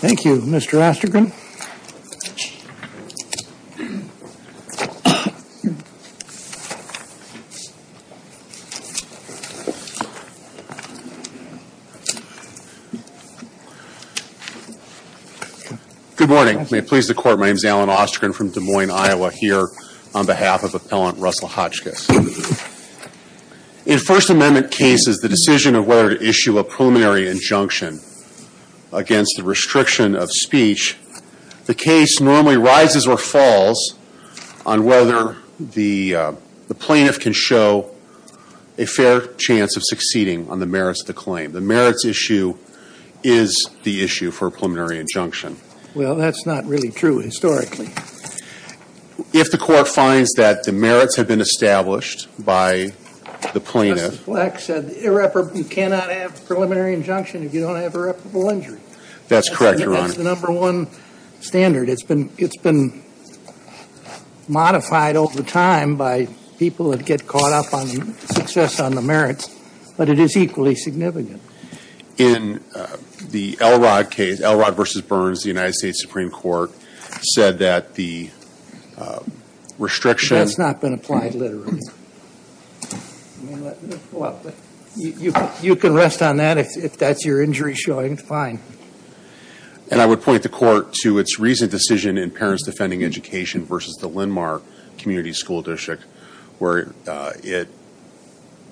Thank you, Mr. Ostergren. Good morning. May it please the Court, my name is Alan Ostergren from Des Moines, Iowa, here on behalf of Appellant Russell Hotchkiss. In First Amendment cases, the decision of whether to issue a preliminary injunction against the restriction of speech, the case normally rises or falls on whether the plaintiff can show a fair chance of succeeding on the merits of the claim. The merits issue is the issue for a preliminary injunction. Well, that's not really true historically. If the Court finds that the merits have been established by the plaintiff... Justice Fleck said you cannot have a preliminary injunction if you don't have irreparable injury. That's correct, Your Honor. That's the number one standard. It's been modified over time by people that get caught up on success on the merits, but it is equally significant. In the Elrod case, Elrod v. Burns, the United States Supreme Court said that the restriction... That's not been applied literally. You can rest on that if that's your injury showing, it's fine. And I would point the Court to its recent decision in Parents Defending Education v. the Linmar Community School District where it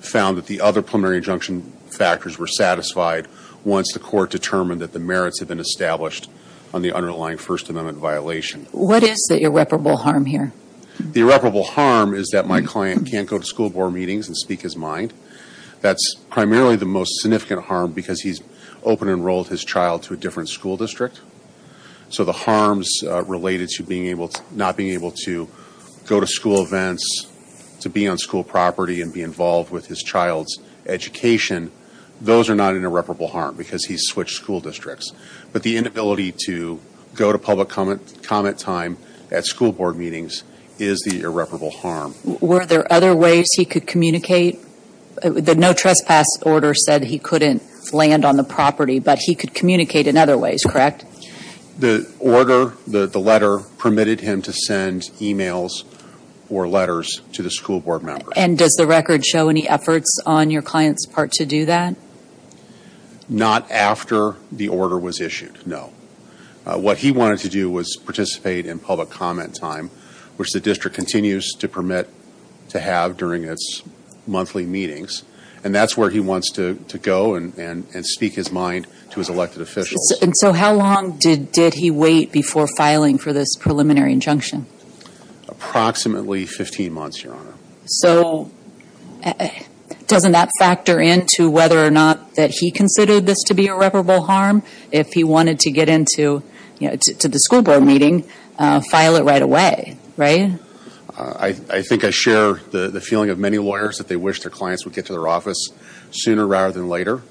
found that the other preliminary injunction factors were satisfied once the Court determined that the merits had been established on the underlying First Amendment violation. What is the irreparable harm here? The irreparable harm is that my client can't go to school board meetings and speak his mind. That's primarily the most significant harm because he's open-enrolled his child to a different school district. So the harms related to not being able to go to school events, to be on school property and be involved with his child's education, those are not an irreparable harm because he's switched school districts. But the inability to go to public comment time at school board meetings is the irreparable harm. Were there other ways he could communicate? The no trespass order said he couldn't land on the property, but he could communicate in other ways, correct? The order, the letter, permitted him to send emails or letters to the school board members. And does the record show any efforts on your client's part to do that? Not after the order was issued, no. What he wanted to do was participate in public comment time, which the district continues to permit to have during its monthly meetings. And that's where he wants to go and speak his mind to his elected officials. And so how long did he wait before filing for this preliminary injunction? Approximately 15 months, Your Honor. So doesn't that factor into whether or not that he considered this to be irreparable harm? If he wanted to get into the school board meeting, file it right away, right? I think I share the feeling of many lawyers that they wish their clients would get to their office sooner rather than later.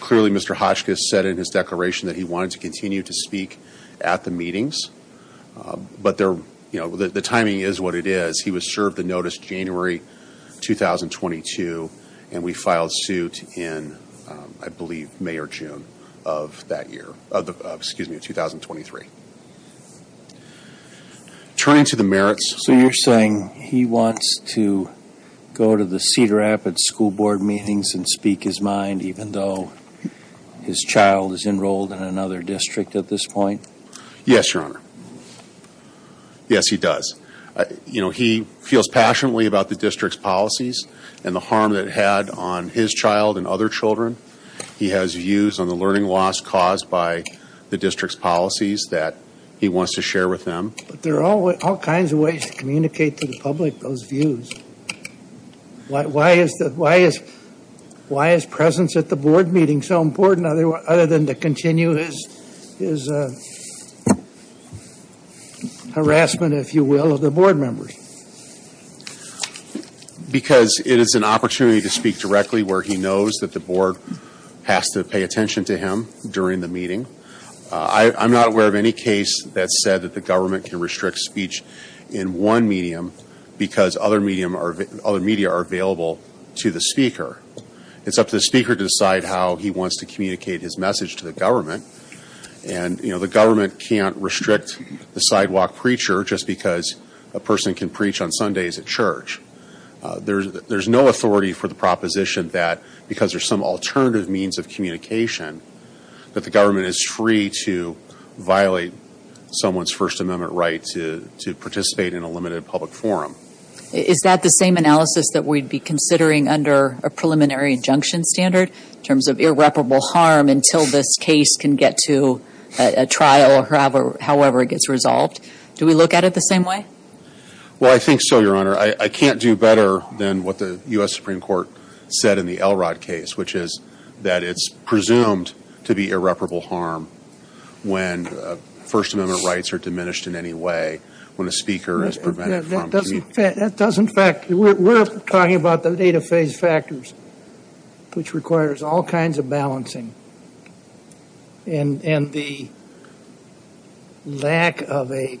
Clearly, Mr. Hotchkiss said in his declaration that he wanted to continue to speak at the meetings. But the timing is what it is. He was served the notice January 2022, and we filed suit in, I believe, May or June of that year. Excuse me, 2023. Turning to the merits. So you're saying he wants to go to the Cedar Rapids school board meetings and speak his mind, even though his child is enrolled in another district at this point? Yes, Your Honor. Yes, he does. You know, he feels passionately about the district's policies and the harm that it had on his child and other children. He has views on the learning loss caused by the district's policies that he wants to share with them. But there are all kinds of ways to communicate to the public those views. Why is presence at the board meeting so important other than to continue his harassment, if you will, of the board members? Because it is an opportunity to speak directly where he knows that the board has to pay attention to him during the meeting. I'm not aware of any case that said that the government can restrict speech in one medium because other media are available to the speaker. It's up to the speaker to decide how he wants to communicate his message to the government. And, you know, the government can't restrict the sidewalk preacher just because a person can preach on Sundays at church. There's no authority for the proposition that because there's some alternative means of communication that the government is free to violate someone's First Amendment right to participate in a limited public forum. Is that the same analysis that we'd be considering under a preliminary injunction standard in terms of irreparable harm until this case can get to a trial or however it gets resolved? Do we look at it the same way? Well, I think so, Your Honor. I can't do better than what the U.S. Supreme Court said in the Elrod case, which is that it's presumed to be irreparable harm when First Amendment rights are diminished in any way, when a speaker is prevented from communicating. That doesn't factor. We're talking about the data phase factors, which requires all kinds of balancing. And the lack of a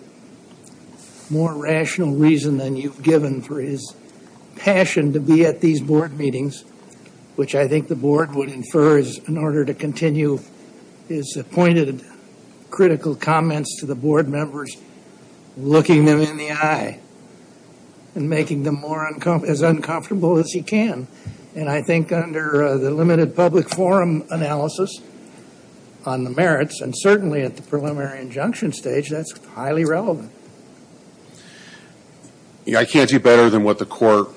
more rational reason than you've given for his passion to be at these board meetings, which I think the board would infer is in order to continue his pointed critical comments to the board members, looking them in the eye and making them as uncomfortable as he can. And I think under the limited public forum analysis on the merits, and certainly at the preliminary injunction stage, that's highly relevant. I can't do better than what the court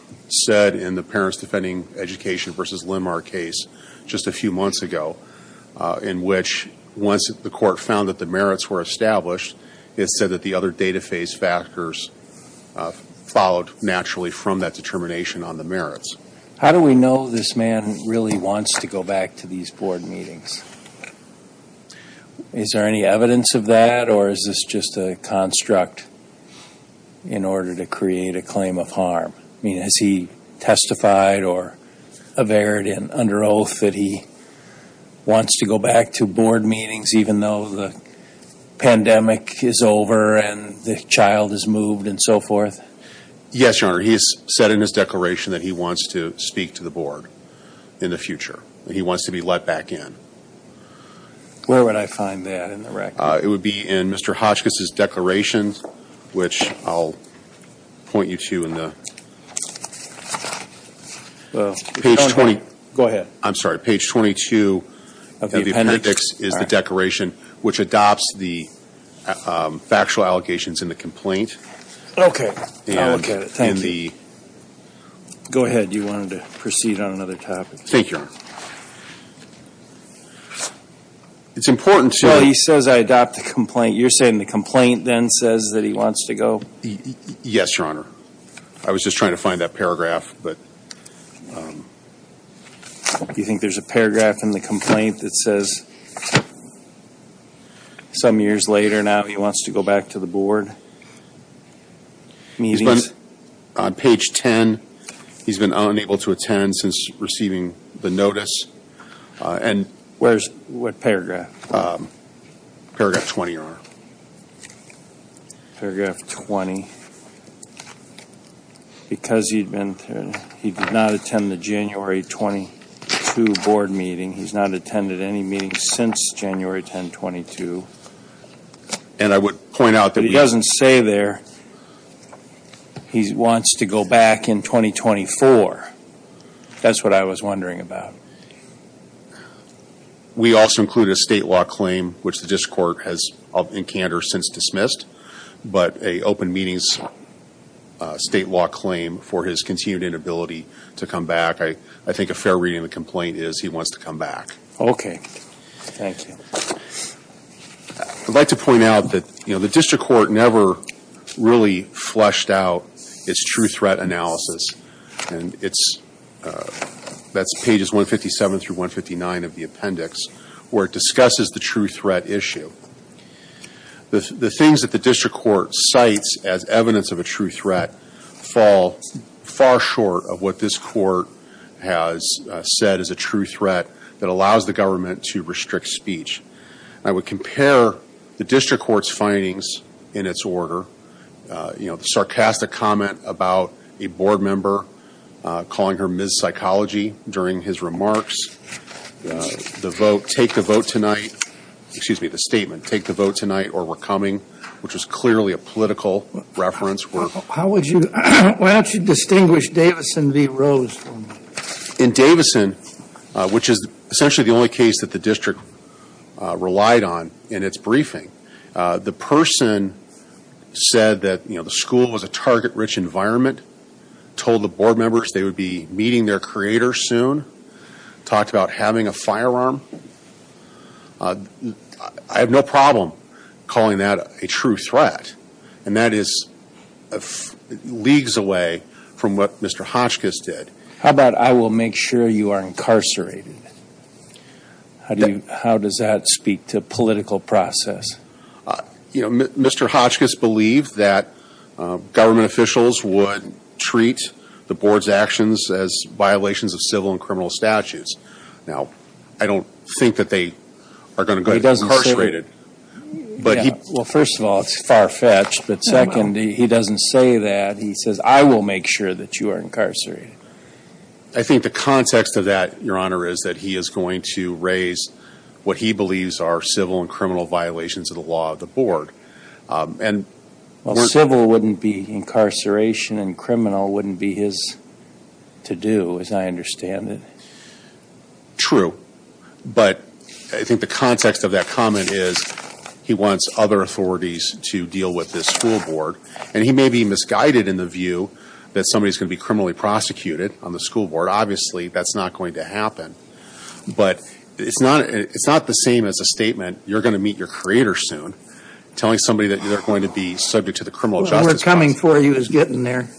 said in the Parents Defending Education v. Limar case just a few months ago, in which once the court found that the merits were established, it said that the other data phase factors followed naturally from that determination on the merits. How do we know this man really wants to go back to these board meetings? Is there any evidence of that? Or is this just a construct in order to create a claim of harm? I mean, has he testified or averred under oath that he wants to go back to board meetings, even though the pandemic is over and the child is moved and so forth? Yes, Your Honor. He has said in his declaration that he wants to speak to the board in the future. He wants to be let back in. Where would I find that in the record? It would be in Mr. Hotchkiss' declaration, which I'll point you to in the page 20. Go ahead. I'm sorry. Page 22 of the appendix is the declaration, which adopts the factual allegations in the complaint. Okay. I'll look at it. Thank you. Go ahead. You wanted to proceed on another topic. Thank you, Your Honor. It's important to me. Well, he says, I adopt the complaint. You're saying the complaint then says that he wants to go? Yes, Your Honor. I was just trying to find that paragraph. Do you think there's a paragraph in the complaint that says some years later now he wants to go back to the board meetings? On page 10, he's been unable to attend since receiving the notice. What paragraph? Paragraph 20, Your Honor. Paragraph 20. Because he did not attend the January 22 board meeting, he's not attended any meetings since January 10, 22. He doesn't say there he wants to go back in 2024. That's what I was wondering about. We also include a state law claim, which the district court has in candor since dismissed, but a open meetings state law claim for his continued inability to come back. I think a fair reading of the complaint is he wants to come back. Okay. Thank you. I'd like to point out that the district court never really fleshed out its true threat analysis, and that's pages 157 through 159 of the appendix where it discusses the true threat issue. The things that the district court cites as evidence of a true threat fall far short of what this court has said is a true threat that allows the government to restrict speech. I would compare the district court's findings in its order, you know, the sarcastic comment about a board member calling her Ms. Psychology during his remarks, the vote, take the vote tonight, excuse me, the statement, take the vote tonight or we're coming, which is clearly a political reference. Why don't you distinguish Davison v. Rose for me? In Davison, which is essentially the only case that the district relied on in its briefing, the person said that, you know, the school was a target-rich environment, told the board members they would be meeting their creator soon, talked about having a firearm. I have no problem calling that a true threat, and that is leagues away from what Mr. Hotchkiss did. How about I will make sure you are incarcerated? How does that speak to political process? You know, Mr. Hotchkiss believed that government officials would treat the board's actions as violations of civil and criminal statutes. Now, I don't think that they are going to go incarcerated. Well, first of all, it's far-fetched, but second, he doesn't say that. He says I will make sure that you are incarcerated. I think the context of that, Your Honor, is that he is going to raise what he believes are civil and criminal violations of the law of the board. Well, civil wouldn't be incarceration, and criminal wouldn't be his to-do, as I understand it. True, but I think the context of that comment is he wants other authorities to deal with this school board, and he may be misguided in the view that somebody is going to be criminally prosecuted on the school board. Obviously, that's not going to happen, but it's not the same as a statement, you're going to meet your creator soon, telling somebody that they're going to be subject to the criminal justice process. What we're coming for you is getting there.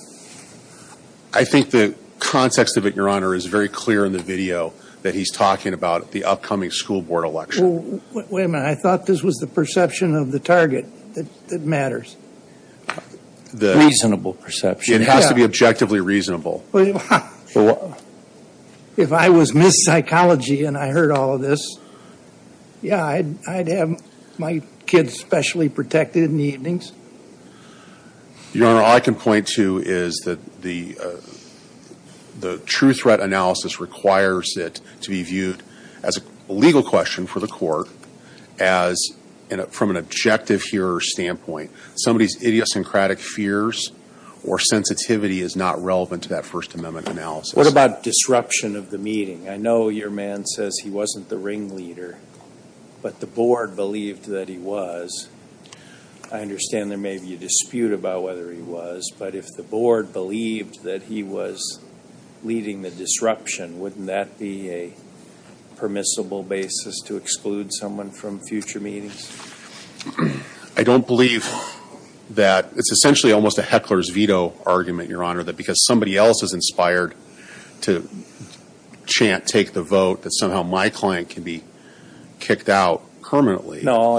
I think the context of it, Your Honor, is very clear in the video that he's talking about the upcoming school board election. Wait a minute. I thought this was the perception of the target that matters. Reasonable perception. It has to be objectively reasonable. If I was Ms. Psychology and I heard all of this, yeah, I'd have my kids specially protected in the evenings. Your Honor, all I can point to is that the true threat analysis requires it to be viewed as a legal question for the court, as from an objective hearer standpoint. Somebody's idiosyncratic fears or sensitivity is not relevant to that First Amendment analysis. What about disruption of the meeting? I know your man says he wasn't the ringleader, but the board believed that he was. I understand there may be a dispute about whether he was, but if the board believed that he was leading the disruption, wouldn't that be a permissible basis to exclude someone from future meetings? I don't believe that. It's essentially almost a heckler's veto argument, Your Honor, that because somebody else is inspired to chant, take the vote, that somehow my client can be kicked out permanently. Well,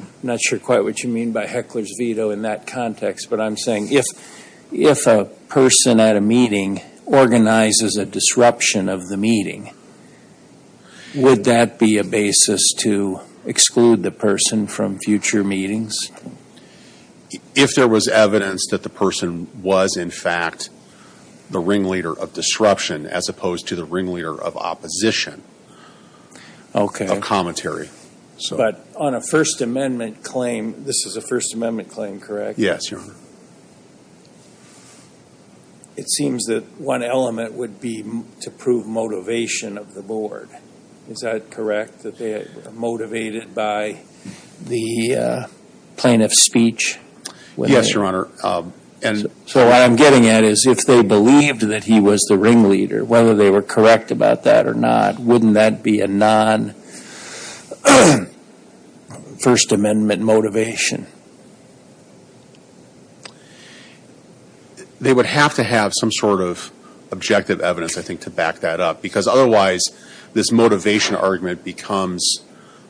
I'm not sure quite what you mean by heckler's veto in that context, but I'm saying if a person at a meeting organizes a disruption of the meeting, would that be a basis to exclude the person from future meetings? If there was evidence that the person was in fact the ringleader of disruption as opposed to the ringleader of opposition of commentary. But on a First Amendment claim, this is a First Amendment claim, correct? Yes, Your Honor. It seems that one element would be to prove motivation of the board. Is that correct, that they are motivated by the plaintiff's speech? Yes, Your Honor. So what I'm getting at is if they believed that he was the ringleader, whether they were correct about that or not, wouldn't that be a non-First Amendment motivation? They would have to have some sort of objective evidence, I think, to back that up, because otherwise this motivation argument becomes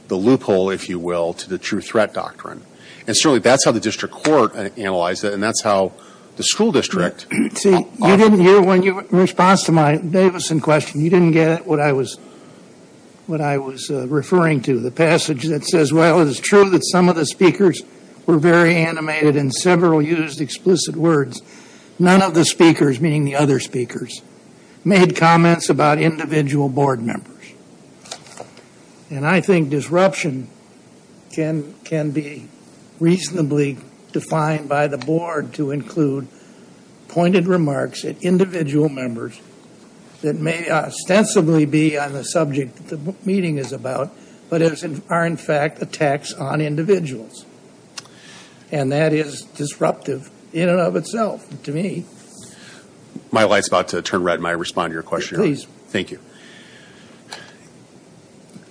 the loophole, if you will, to the true threat doctrine. And certainly that's how the district court analyzed it, and that's how the school district. See, you didn't hear, in response to my Davison question, you didn't get what I was referring to, the passage that says, well, it is true that some of the speakers were very animated and several used explicit words. None of the speakers, meaning the other speakers, made comments about individual board members. And I think disruption can be reasonably defined by the board to include pointed remarks at individual members that may ostensibly be on the subject that the meeting is about, but are in fact attacks on individuals. And that is disruptive in and of itself to me. My light's about to turn red in my response to your question. Please. Thank you.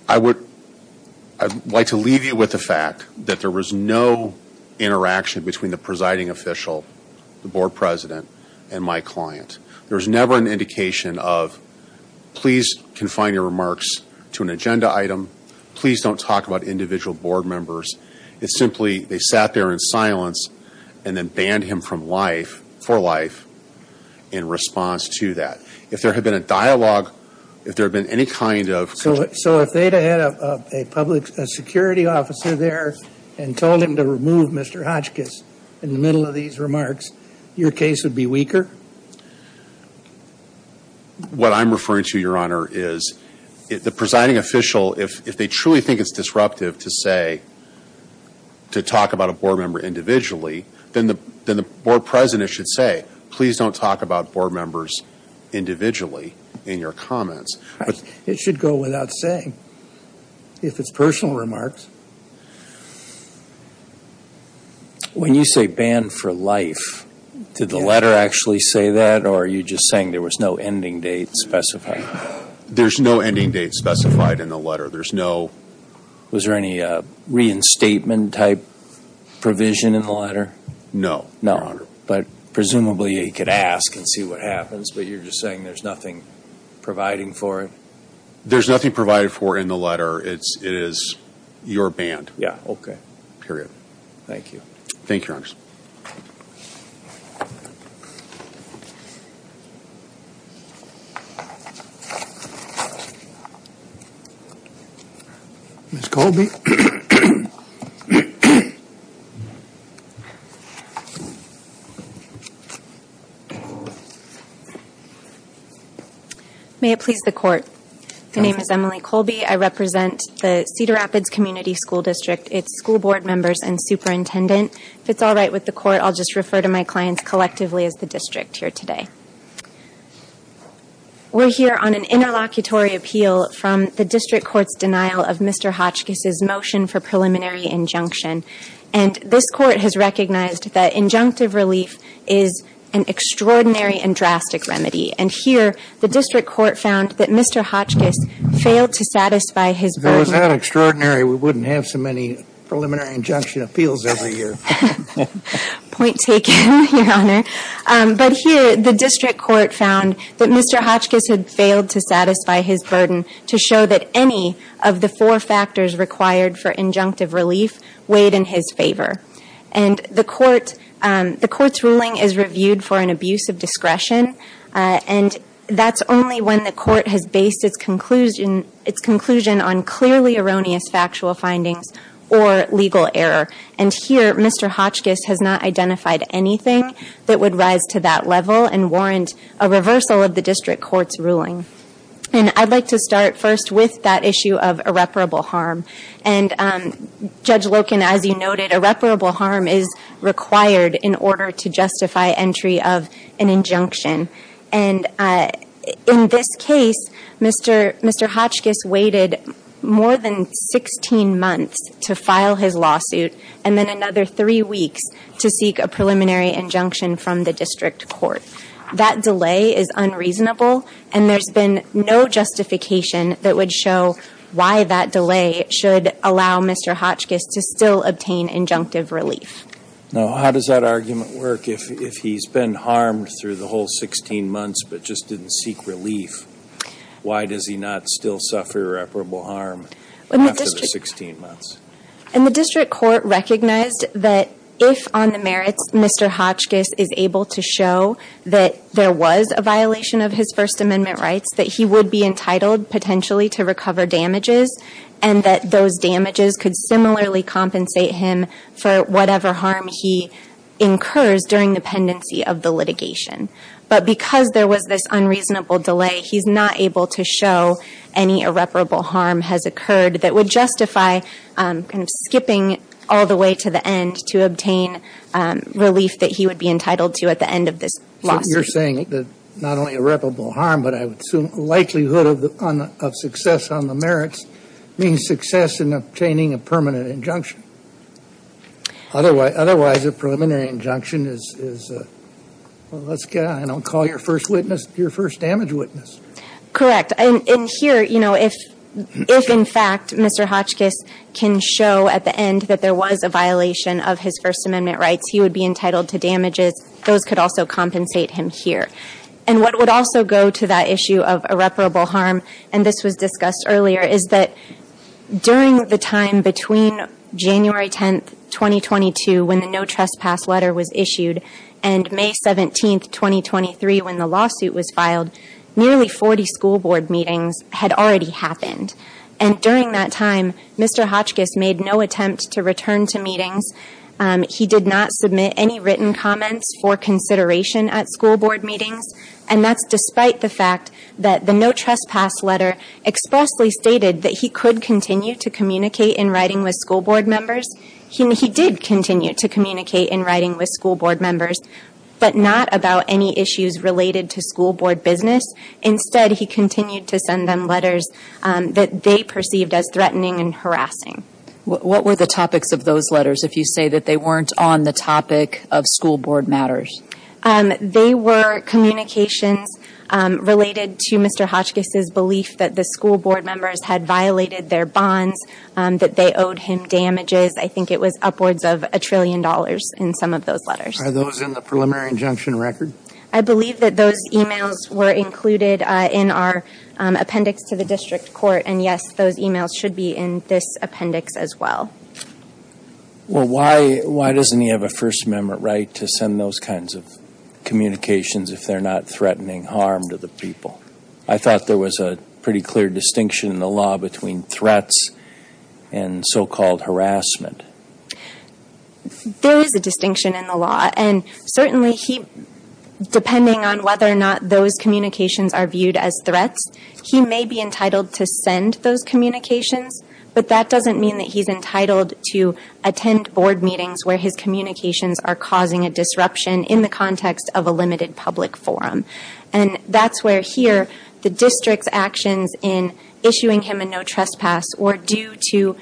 I would like to leave you with the fact that there was no interaction between the presiding official, the board president, and my client. There was never an indication of, please confine your remarks to an agenda item, please don't talk about individual board members. It's simply they sat there in silence and then banned him from life, for life, in response to that. If there had been a dialogue, if there had been any kind of. So if they had a public security officer there and told him to remove Mr. Hotchkiss in the middle of these remarks, your case would be weaker? What I'm referring to, Your Honor, is the presiding official, if they truly think it's disruptive to say, to talk about a board member individually, then the board president should say, please don't talk about board members individually in your comments. It should go without saying, if it's personal remarks. When you say banned for life, did the letter actually say that, or are you just saying there was no ending date specified? Was there any reinstatement type provision in the letter? No, Your Honor. But presumably he could ask and see what happens, but you're just saying there's nothing providing for it? There's nothing provided for in the letter. It is, you're banned. Yeah, okay. Period. Thank you. Thank you, Your Honor. Ms. Colby. May it please the Court. My name is Emily Colby. I represent the Cedar Rapids Community School District. It's school board members and superintendent. If it's all right with the Court, I'll just refer to my clients collectively as the district here today. We're here on an interlocutory appeal from the district court's denial of Mr. Hotchkiss' motion for preliminary injunction. And this court has recognized that injunctive relief is an extraordinary and drastic remedy. And here, the district court found that Mr. Hotchkiss failed to satisfy his version. If it was that extraordinary, we wouldn't have so many preliminary injunction appeals every year. Point taken, Your Honor. But here, the district court found that Mr. Hotchkiss had failed to satisfy his burden to show that any of the four factors required for injunctive relief weighed in his favor. And the court's ruling is reviewed for an abuse of discretion. And that's only when the court has based its conclusion on clearly erroneous factual findings or legal error. And here, Mr. Hotchkiss has not identified anything that would rise to that level and warrant a reversal of the district court's ruling. And I'd like to start first with that issue of irreparable harm. And Judge Loken, as you noted, irreparable harm is required in order to justify entry of an injunction. And in this case, Mr. Hotchkiss waited more than 16 months to file his lawsuit, and then another three weeks to seek a preliminary injunction from the district court. That delay is unreasonable, and there's been no justification that would show why that delay should allow Mr. Hotchkiss to still obtain injunctive relief. Now, how does that argument work if he's been harmed through the whole 16 months but just didn't seek relief? Why does he not still suffer irreparable harm after the 16 months? And the district court recognized that if, on the merits, Mr. Hotchkiss is able to show that there was a violation of his First Amendment rights, that he would be entitled, potentially, to recover damages, and that those damages could similarly compensate him for whatever harm he incurs during the pendency of the litigation. But because there was this unreasonable delay, he's not able to show any irreparable harm has occurred that would justify kind of skipping all the way to the end to obtain relief that he would be entitled to at the end of this lawsuit. You're saying that not only irreparable harm, but I would assume likelihood of success on the merits means success in obtaining a permanent injunction. Otherwise, a preliminary injunction is, well, let's get on. I don't call your first witness your first damage witness. Correct. And here, you know, if, in fact, Mr. Hotchkiss can show at the end that there was a violation of his First Amendment rights, he would be entitled to damages. Those could also compensate him here. And what would also go to that issue of irreparable harm, and this was discussed earlier, is that during the time between January 10, 2022, when the No Trespass letter was issued, and May 17, 2023, when the lawsuit was filed, nearly 40 school board meetings had already happened. And during that time, Mr. Hotchkiss made no attempt to return to meetings. He did not submit any written comments for consideration at school board meetings. And that's despite the fact that the No Trespass letter expressly stated that he could continue to communicate in writing with school board members. He did continue to communicate in writing with school board members, but not about any issues related to school board business. Instead, he continued to send them letters that they perceived as threatening and harassing. What were the topics of those letters, if you say that they weren't on the topic of school board matters? They were communications related to Mr. Hotchkiss' belief that the school board members had violated their bonds, that they owed him damages. I think it was upwards of a trillion dollars in some of those letters. Are those in the preliminary injunction record? I believe that those emails were included in our appendix to the district court, and yes, those emails should be in this appendix as well. Well, why doesn't he have a First Amendment right to send those kinds of communications if they're not threatening harm to the people? I thought there was a pretty clear distinction in the law between threats and so-called harassment. There is a distinction in the law, and certainly, depending on whether or not those communications are viewed as threats, he may be entitled to send those communications, but that doesn't mean that he's entitled to attend board meetings where his communications are causing a disruption in the context of a limited public forum. That's where, here, the district's actions in issuing him a no-trespass were due to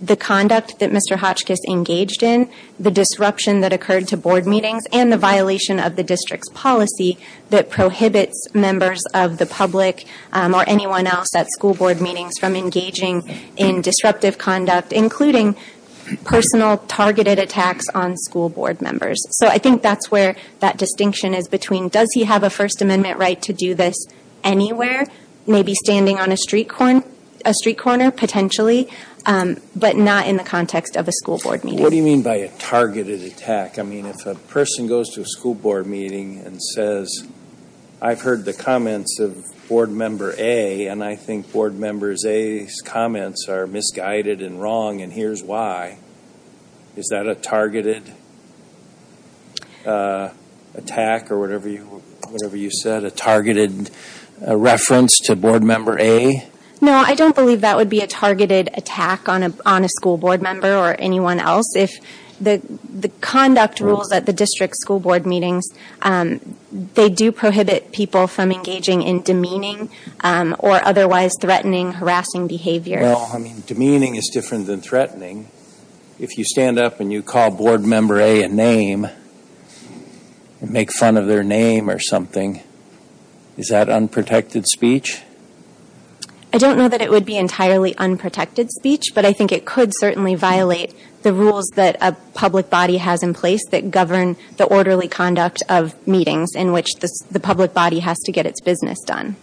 the conduct that Mr. Hotchkiss engaged in, the disruption that occurred to board meetings, and the violation of the district's policy that prohibits members of the public or anyone else at school board meetings from engaging in disruptive conduct, including personal targeted attacks on school board members. So I think that's where that distinction is between does he have a First Amendment right to do this anywhere, maybe standing on a street corner, potentially, but not in the context of a school board meeting. What do you mean by a targeted attack? I mean, if a person goes to a school board meeting and says, I've heard the comments of Board Member A, and I think Board Member A's comments are misguided and wrong, and here's why. Is that a targeted attack or whatever you said, a targeted reference to Board Member A? No, I don't believe that would be a targeted attack on a school board member or anyone else. The conduct rules at the district school board meetings, they do prohibit people from engaging in demeaning or otherwise threatening, harassing behavior. Well, I mean, demeaning is different than threatening. If you stand up and you call Board Member A a name and make fun of their name or something, is that unprotected speech? I don't know that it would be entirely unprotected speech, but I think it could certainly violate the rules that a public body has in place that govern the orderly conduct of meetings in which the public body has to get its business done.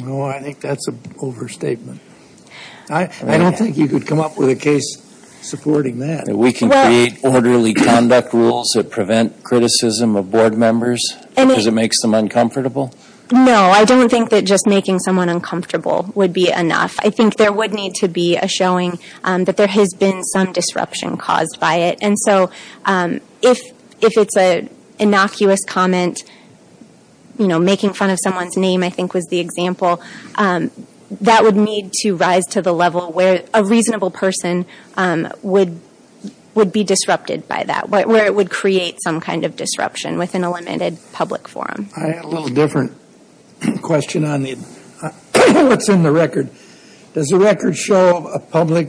Well, I think that's an overstatement. I don't think you could come up with a case supporting that. We can create orderly conduct rules that prevent criticism of board members because it makes them uncomfortable? No, I don't think that just making someone uncomfortable would be enough. I think there would need to be a showing that there has been some disruption caused by it. And so if it's an innocuous comment, you know, making fun of someone's name I think was the example, that would need to rise to the level where a reasonable person would be disrupted by that, where it would create some kind of disruption within a limited public forum. I have a little different question on what's in the record. Does the record show public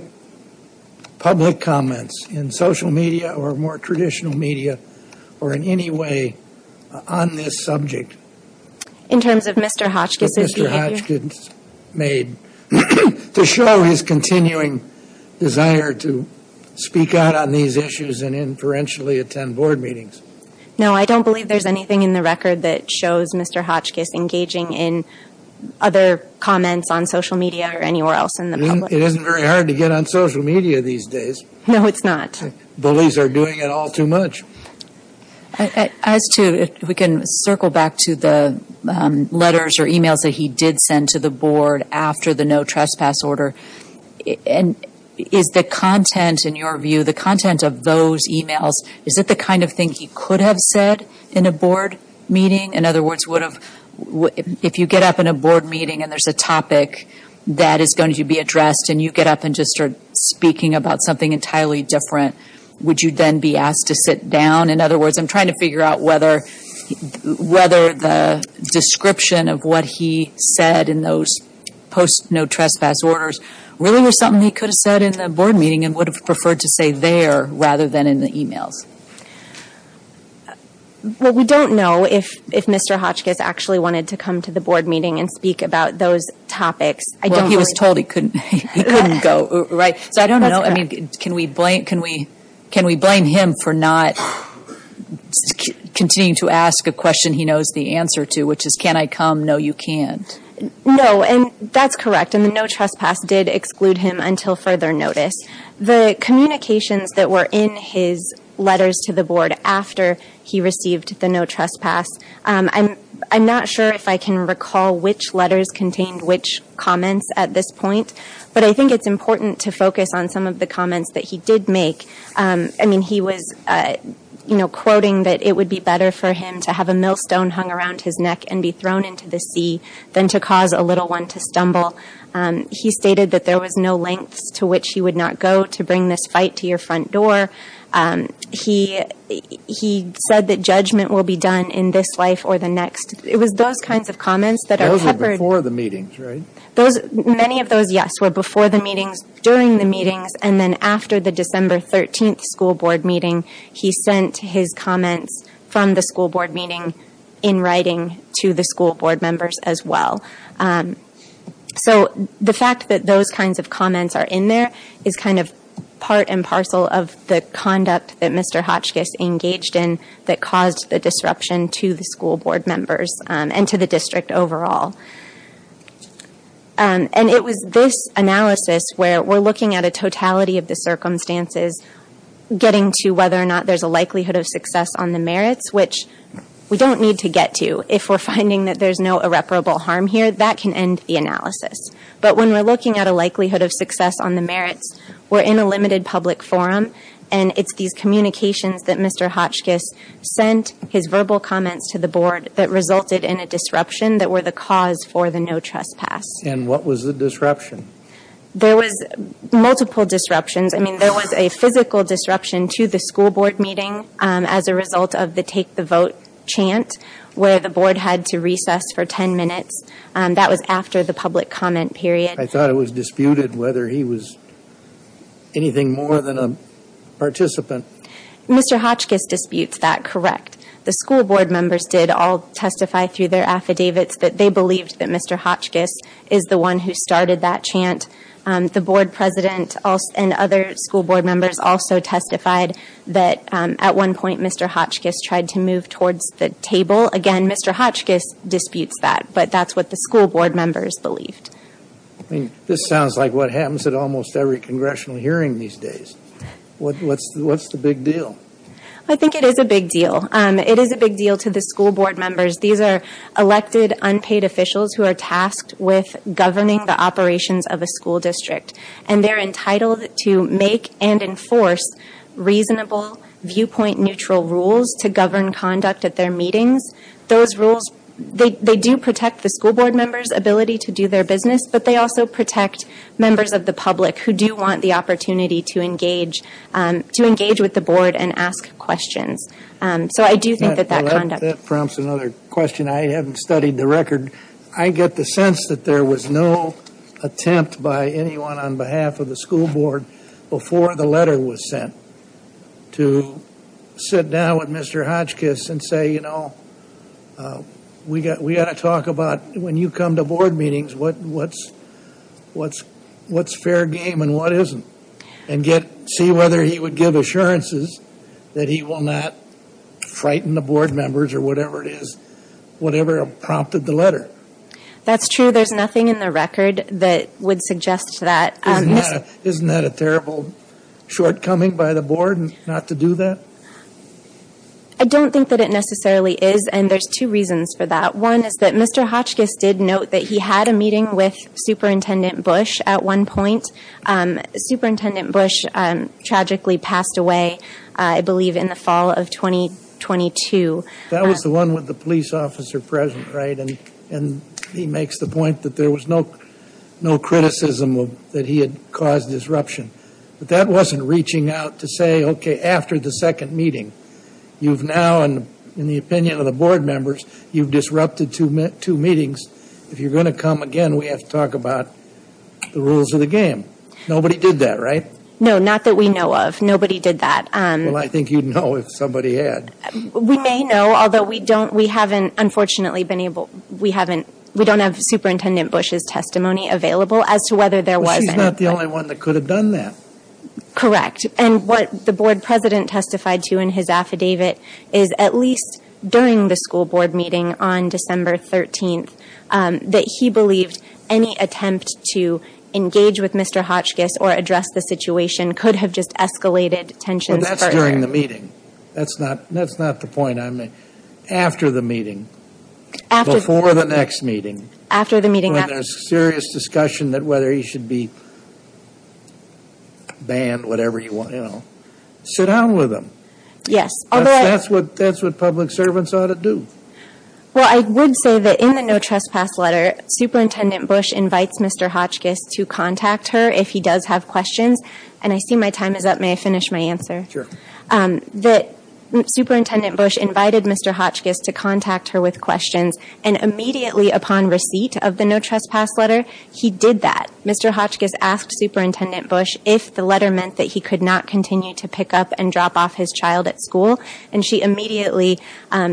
comments in social media or more traditional media or in any way on this subject? In terms of Mr. Hotchkiss's behavior? What Mr. Hotchkiss made to show his continuing desire to speak out on these issues and inferentially attend board meetings. No, I don't believe there's anything in the record that shows Mr. Hotchkiss engaging in other comments on social media or anywhere else in the public. It isn't very hard to get on social media these days. No, it's not. Bullies are doing it all too much. As to, if we can circle back to the letters or e-mails that he did send to the board after the no trespass order, is the content, in your view, the content of those e-mails, is it the kind of thing he could have said in a board meeting? In other words, if you get up in a board meeting and there's a topic that is going to be addressed and you get up and just start speaking about something entirely different, would you then be asked to sit down? In other words, I'm trying to figure out whether the description of what he said in those post no trespass orders really was something he could have said in the board meeting and would have preferred to say there rather than in the e-mails. Well, we don't know if Mr. Hotchkiss actually wanted to come to the board meeting and speak about those topics. Well, he was told he couldn't go, right? So I don't know. Can we blame him for not continuing to ask a question he knows the answer to, which is, can I come? No, you can't. No, and that's correct. And the no trespass did exclude him until further notice. The communications that were in his letters to the board after he received the no trespass, I'm not sure if I can recall which letters contained which comments at this point, but I think it's important to focus on some of the comments that he did make. I mean, he was quoting that it would be better for him to have a millstone hung around his neck and be thrown into the sea than to cause a little one to stumble. He stated that there was no lengths to which he would not go to bring this fight to your front door. He said that judgment will be done in this life or the next. It was those kinds of comments that are peppered. Those were before the meetings, right? Many of those, yes, were before the meetings, during the meetings, and then after the December 13th school board meeting he sent his comments from the school board meeting in writing to the school board members as well. So the fact that those kinds of comments are in there is kind of part and parcel of the conduct that Mr. Hotchkiss engaged in that caused the disruption to the school board members and to the district overall. And it was this analysis where we're looking at a totality of the circumstances, getting to whether or not there's a likelihood of success on the merits, which we don't need to get to if we're finding that there's no irreparable harm here. That can end the analysis. But when we're looking at a likelihood of success on the merits, we're in a limited public forum, and it's these communications that Mr. Hotchkiss sent, his verbal comments to the board, that resulted in a disruption that were the cause for the no trespass. And what was the disruption? There was multiple disruptions. I mean, there was a physical disruption to the school board meeting as a result of the take the vote chant where the board had to recess for 10 minutes. That was after the public comment period. I thought it was disputed whether he was anything more than a participant. Mr. Hotchkiss disputes that correct. The school board members did all testify through their affidavits that they believed that Mr. Hotchkiss is the one who started that chant. The board president and other school board members also testified that, at one point, Mr. Hotchkiss tried to move towards the table. Again, Mr. Hotchkiss disputes that, but that's what the school board members believed. I mean, this sounds like what happens at almost every congressional hearing these days. What's the big deal? I think it is a big deal. It is a big deal to the school board members. These are elected, unpaid officials who are tasked with governing the operations of a school district, and they're entitled to make and enforce reasonable, viewpoint-neutral rules to govern conduct at their meetings. They do protect the school board members' ability to do their business, but they also protect members of the public who do want the opportunity to engage with the board and ask questions. So I do think that that conduct... That prompts another question. I haven't studied the record. I get the sense that there was no attempt by anyone on behalf of the school board before the letter was sent to sit down with Mr. Hotchkiss and say, you know, we've got to talk about when you come to board meetings what's fair game and what isn't and see whether he would give assurances that he will not frighten the board members or whatever it is, whatever prompted the letter. That's true. There's nothing in the record that would suggest that. Isn't that a terrible shortcoming by the board not to do that? I don't think that it necessarily is, and there's two reasons for that. One is that Mr. Hotchkiss did note that he had a meeting with Superintendent Bush at one point. Superintendent Bush tragically passed away, I believe, in the fall of 2022. That was the one with the police officer present, right? And he makes the point that there was no criticism that he had caused disruption. But that wasn't reaching out to say, okay, after the second meeting, you've now, in the opinion of the board members, you've disrupted two meetings. If you're going to come again, we have to talk about the rules of the game. Nobody did that, right? No, not that we know of. Nobody did that. Well, I think you'd know if somebody had. We may know, although we don't. We haven't, unfortunately, been able. We don't have Superintendent Bush's testimony available as to whether there was any. But she's not the only one that could have done that. Correct. And what the board president testified to in his affidavit is at least during the school board meeting on December 13th, that he believed any attempt to engage with Mr. Hotchkiss or address the situation could have just escalated tensions further. Well, that's during the meeting. That's not the point I'm making. After the meeting, before the next meeting. After the meeting. When there's serious discussion that whether he should be banned, whatever, you know. Sit down with him. Yes. That's what public servants ought to do. Well, I would say that in the no trespass letter, Superintendent Bush invites Mr. Hotchkiss to contact her if he does have questions. And I see my time is up. May I finish my answer? Sure. That Superintendent Bush invited Mr. Hotchkiss to contact her with questions. And immediately upon receipt of the no trespass letter, he did that. Mr. Hotchkiss asked Superintendent Bush if the letter meant that he could not continue to pick up and drop off his child at school. And she immediately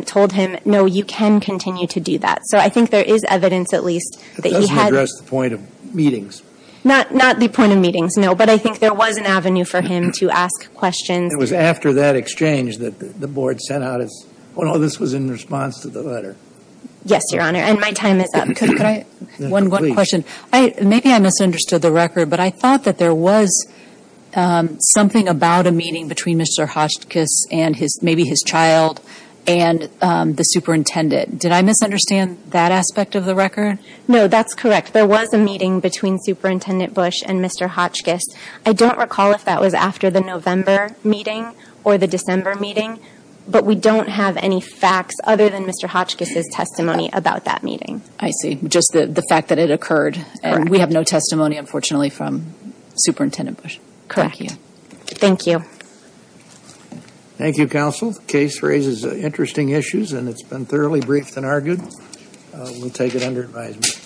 told him, no, you can continue to do that. So I think there is evidence, at least, that he had. That doesn't address the point of meetings. Not the point of meetings, no. But I think there was an avenue for him to ask questions. It was after that exchange that the board sent out its. Well, this was in response to the letter. Yes, Your Honor. And my time is up. Could I? One question. Maybe I misunderstood the record. But I thought that there was something about a meeting between Mr. Hotchkiss and maybe his child and the superintendent. Did I misunderstand that aspect of the record? No, that's correct. There was a meeting between Superintendent Bush and Mr. Hotchkiss. I don't recall if that was after the November meeting or the December meeting. But we don't have any facts other than Mr. Hotchkiss' testimony about that meeting. I see. Just the fact that it occurred. Correct. And we have no testimony, unfortunately, from Superintendent Bush. Correct. Thank you. Thank you. Thank you, counsel. The case raises interesting issues and it's been thoroughly briefed and argued. We'll take it under advisement.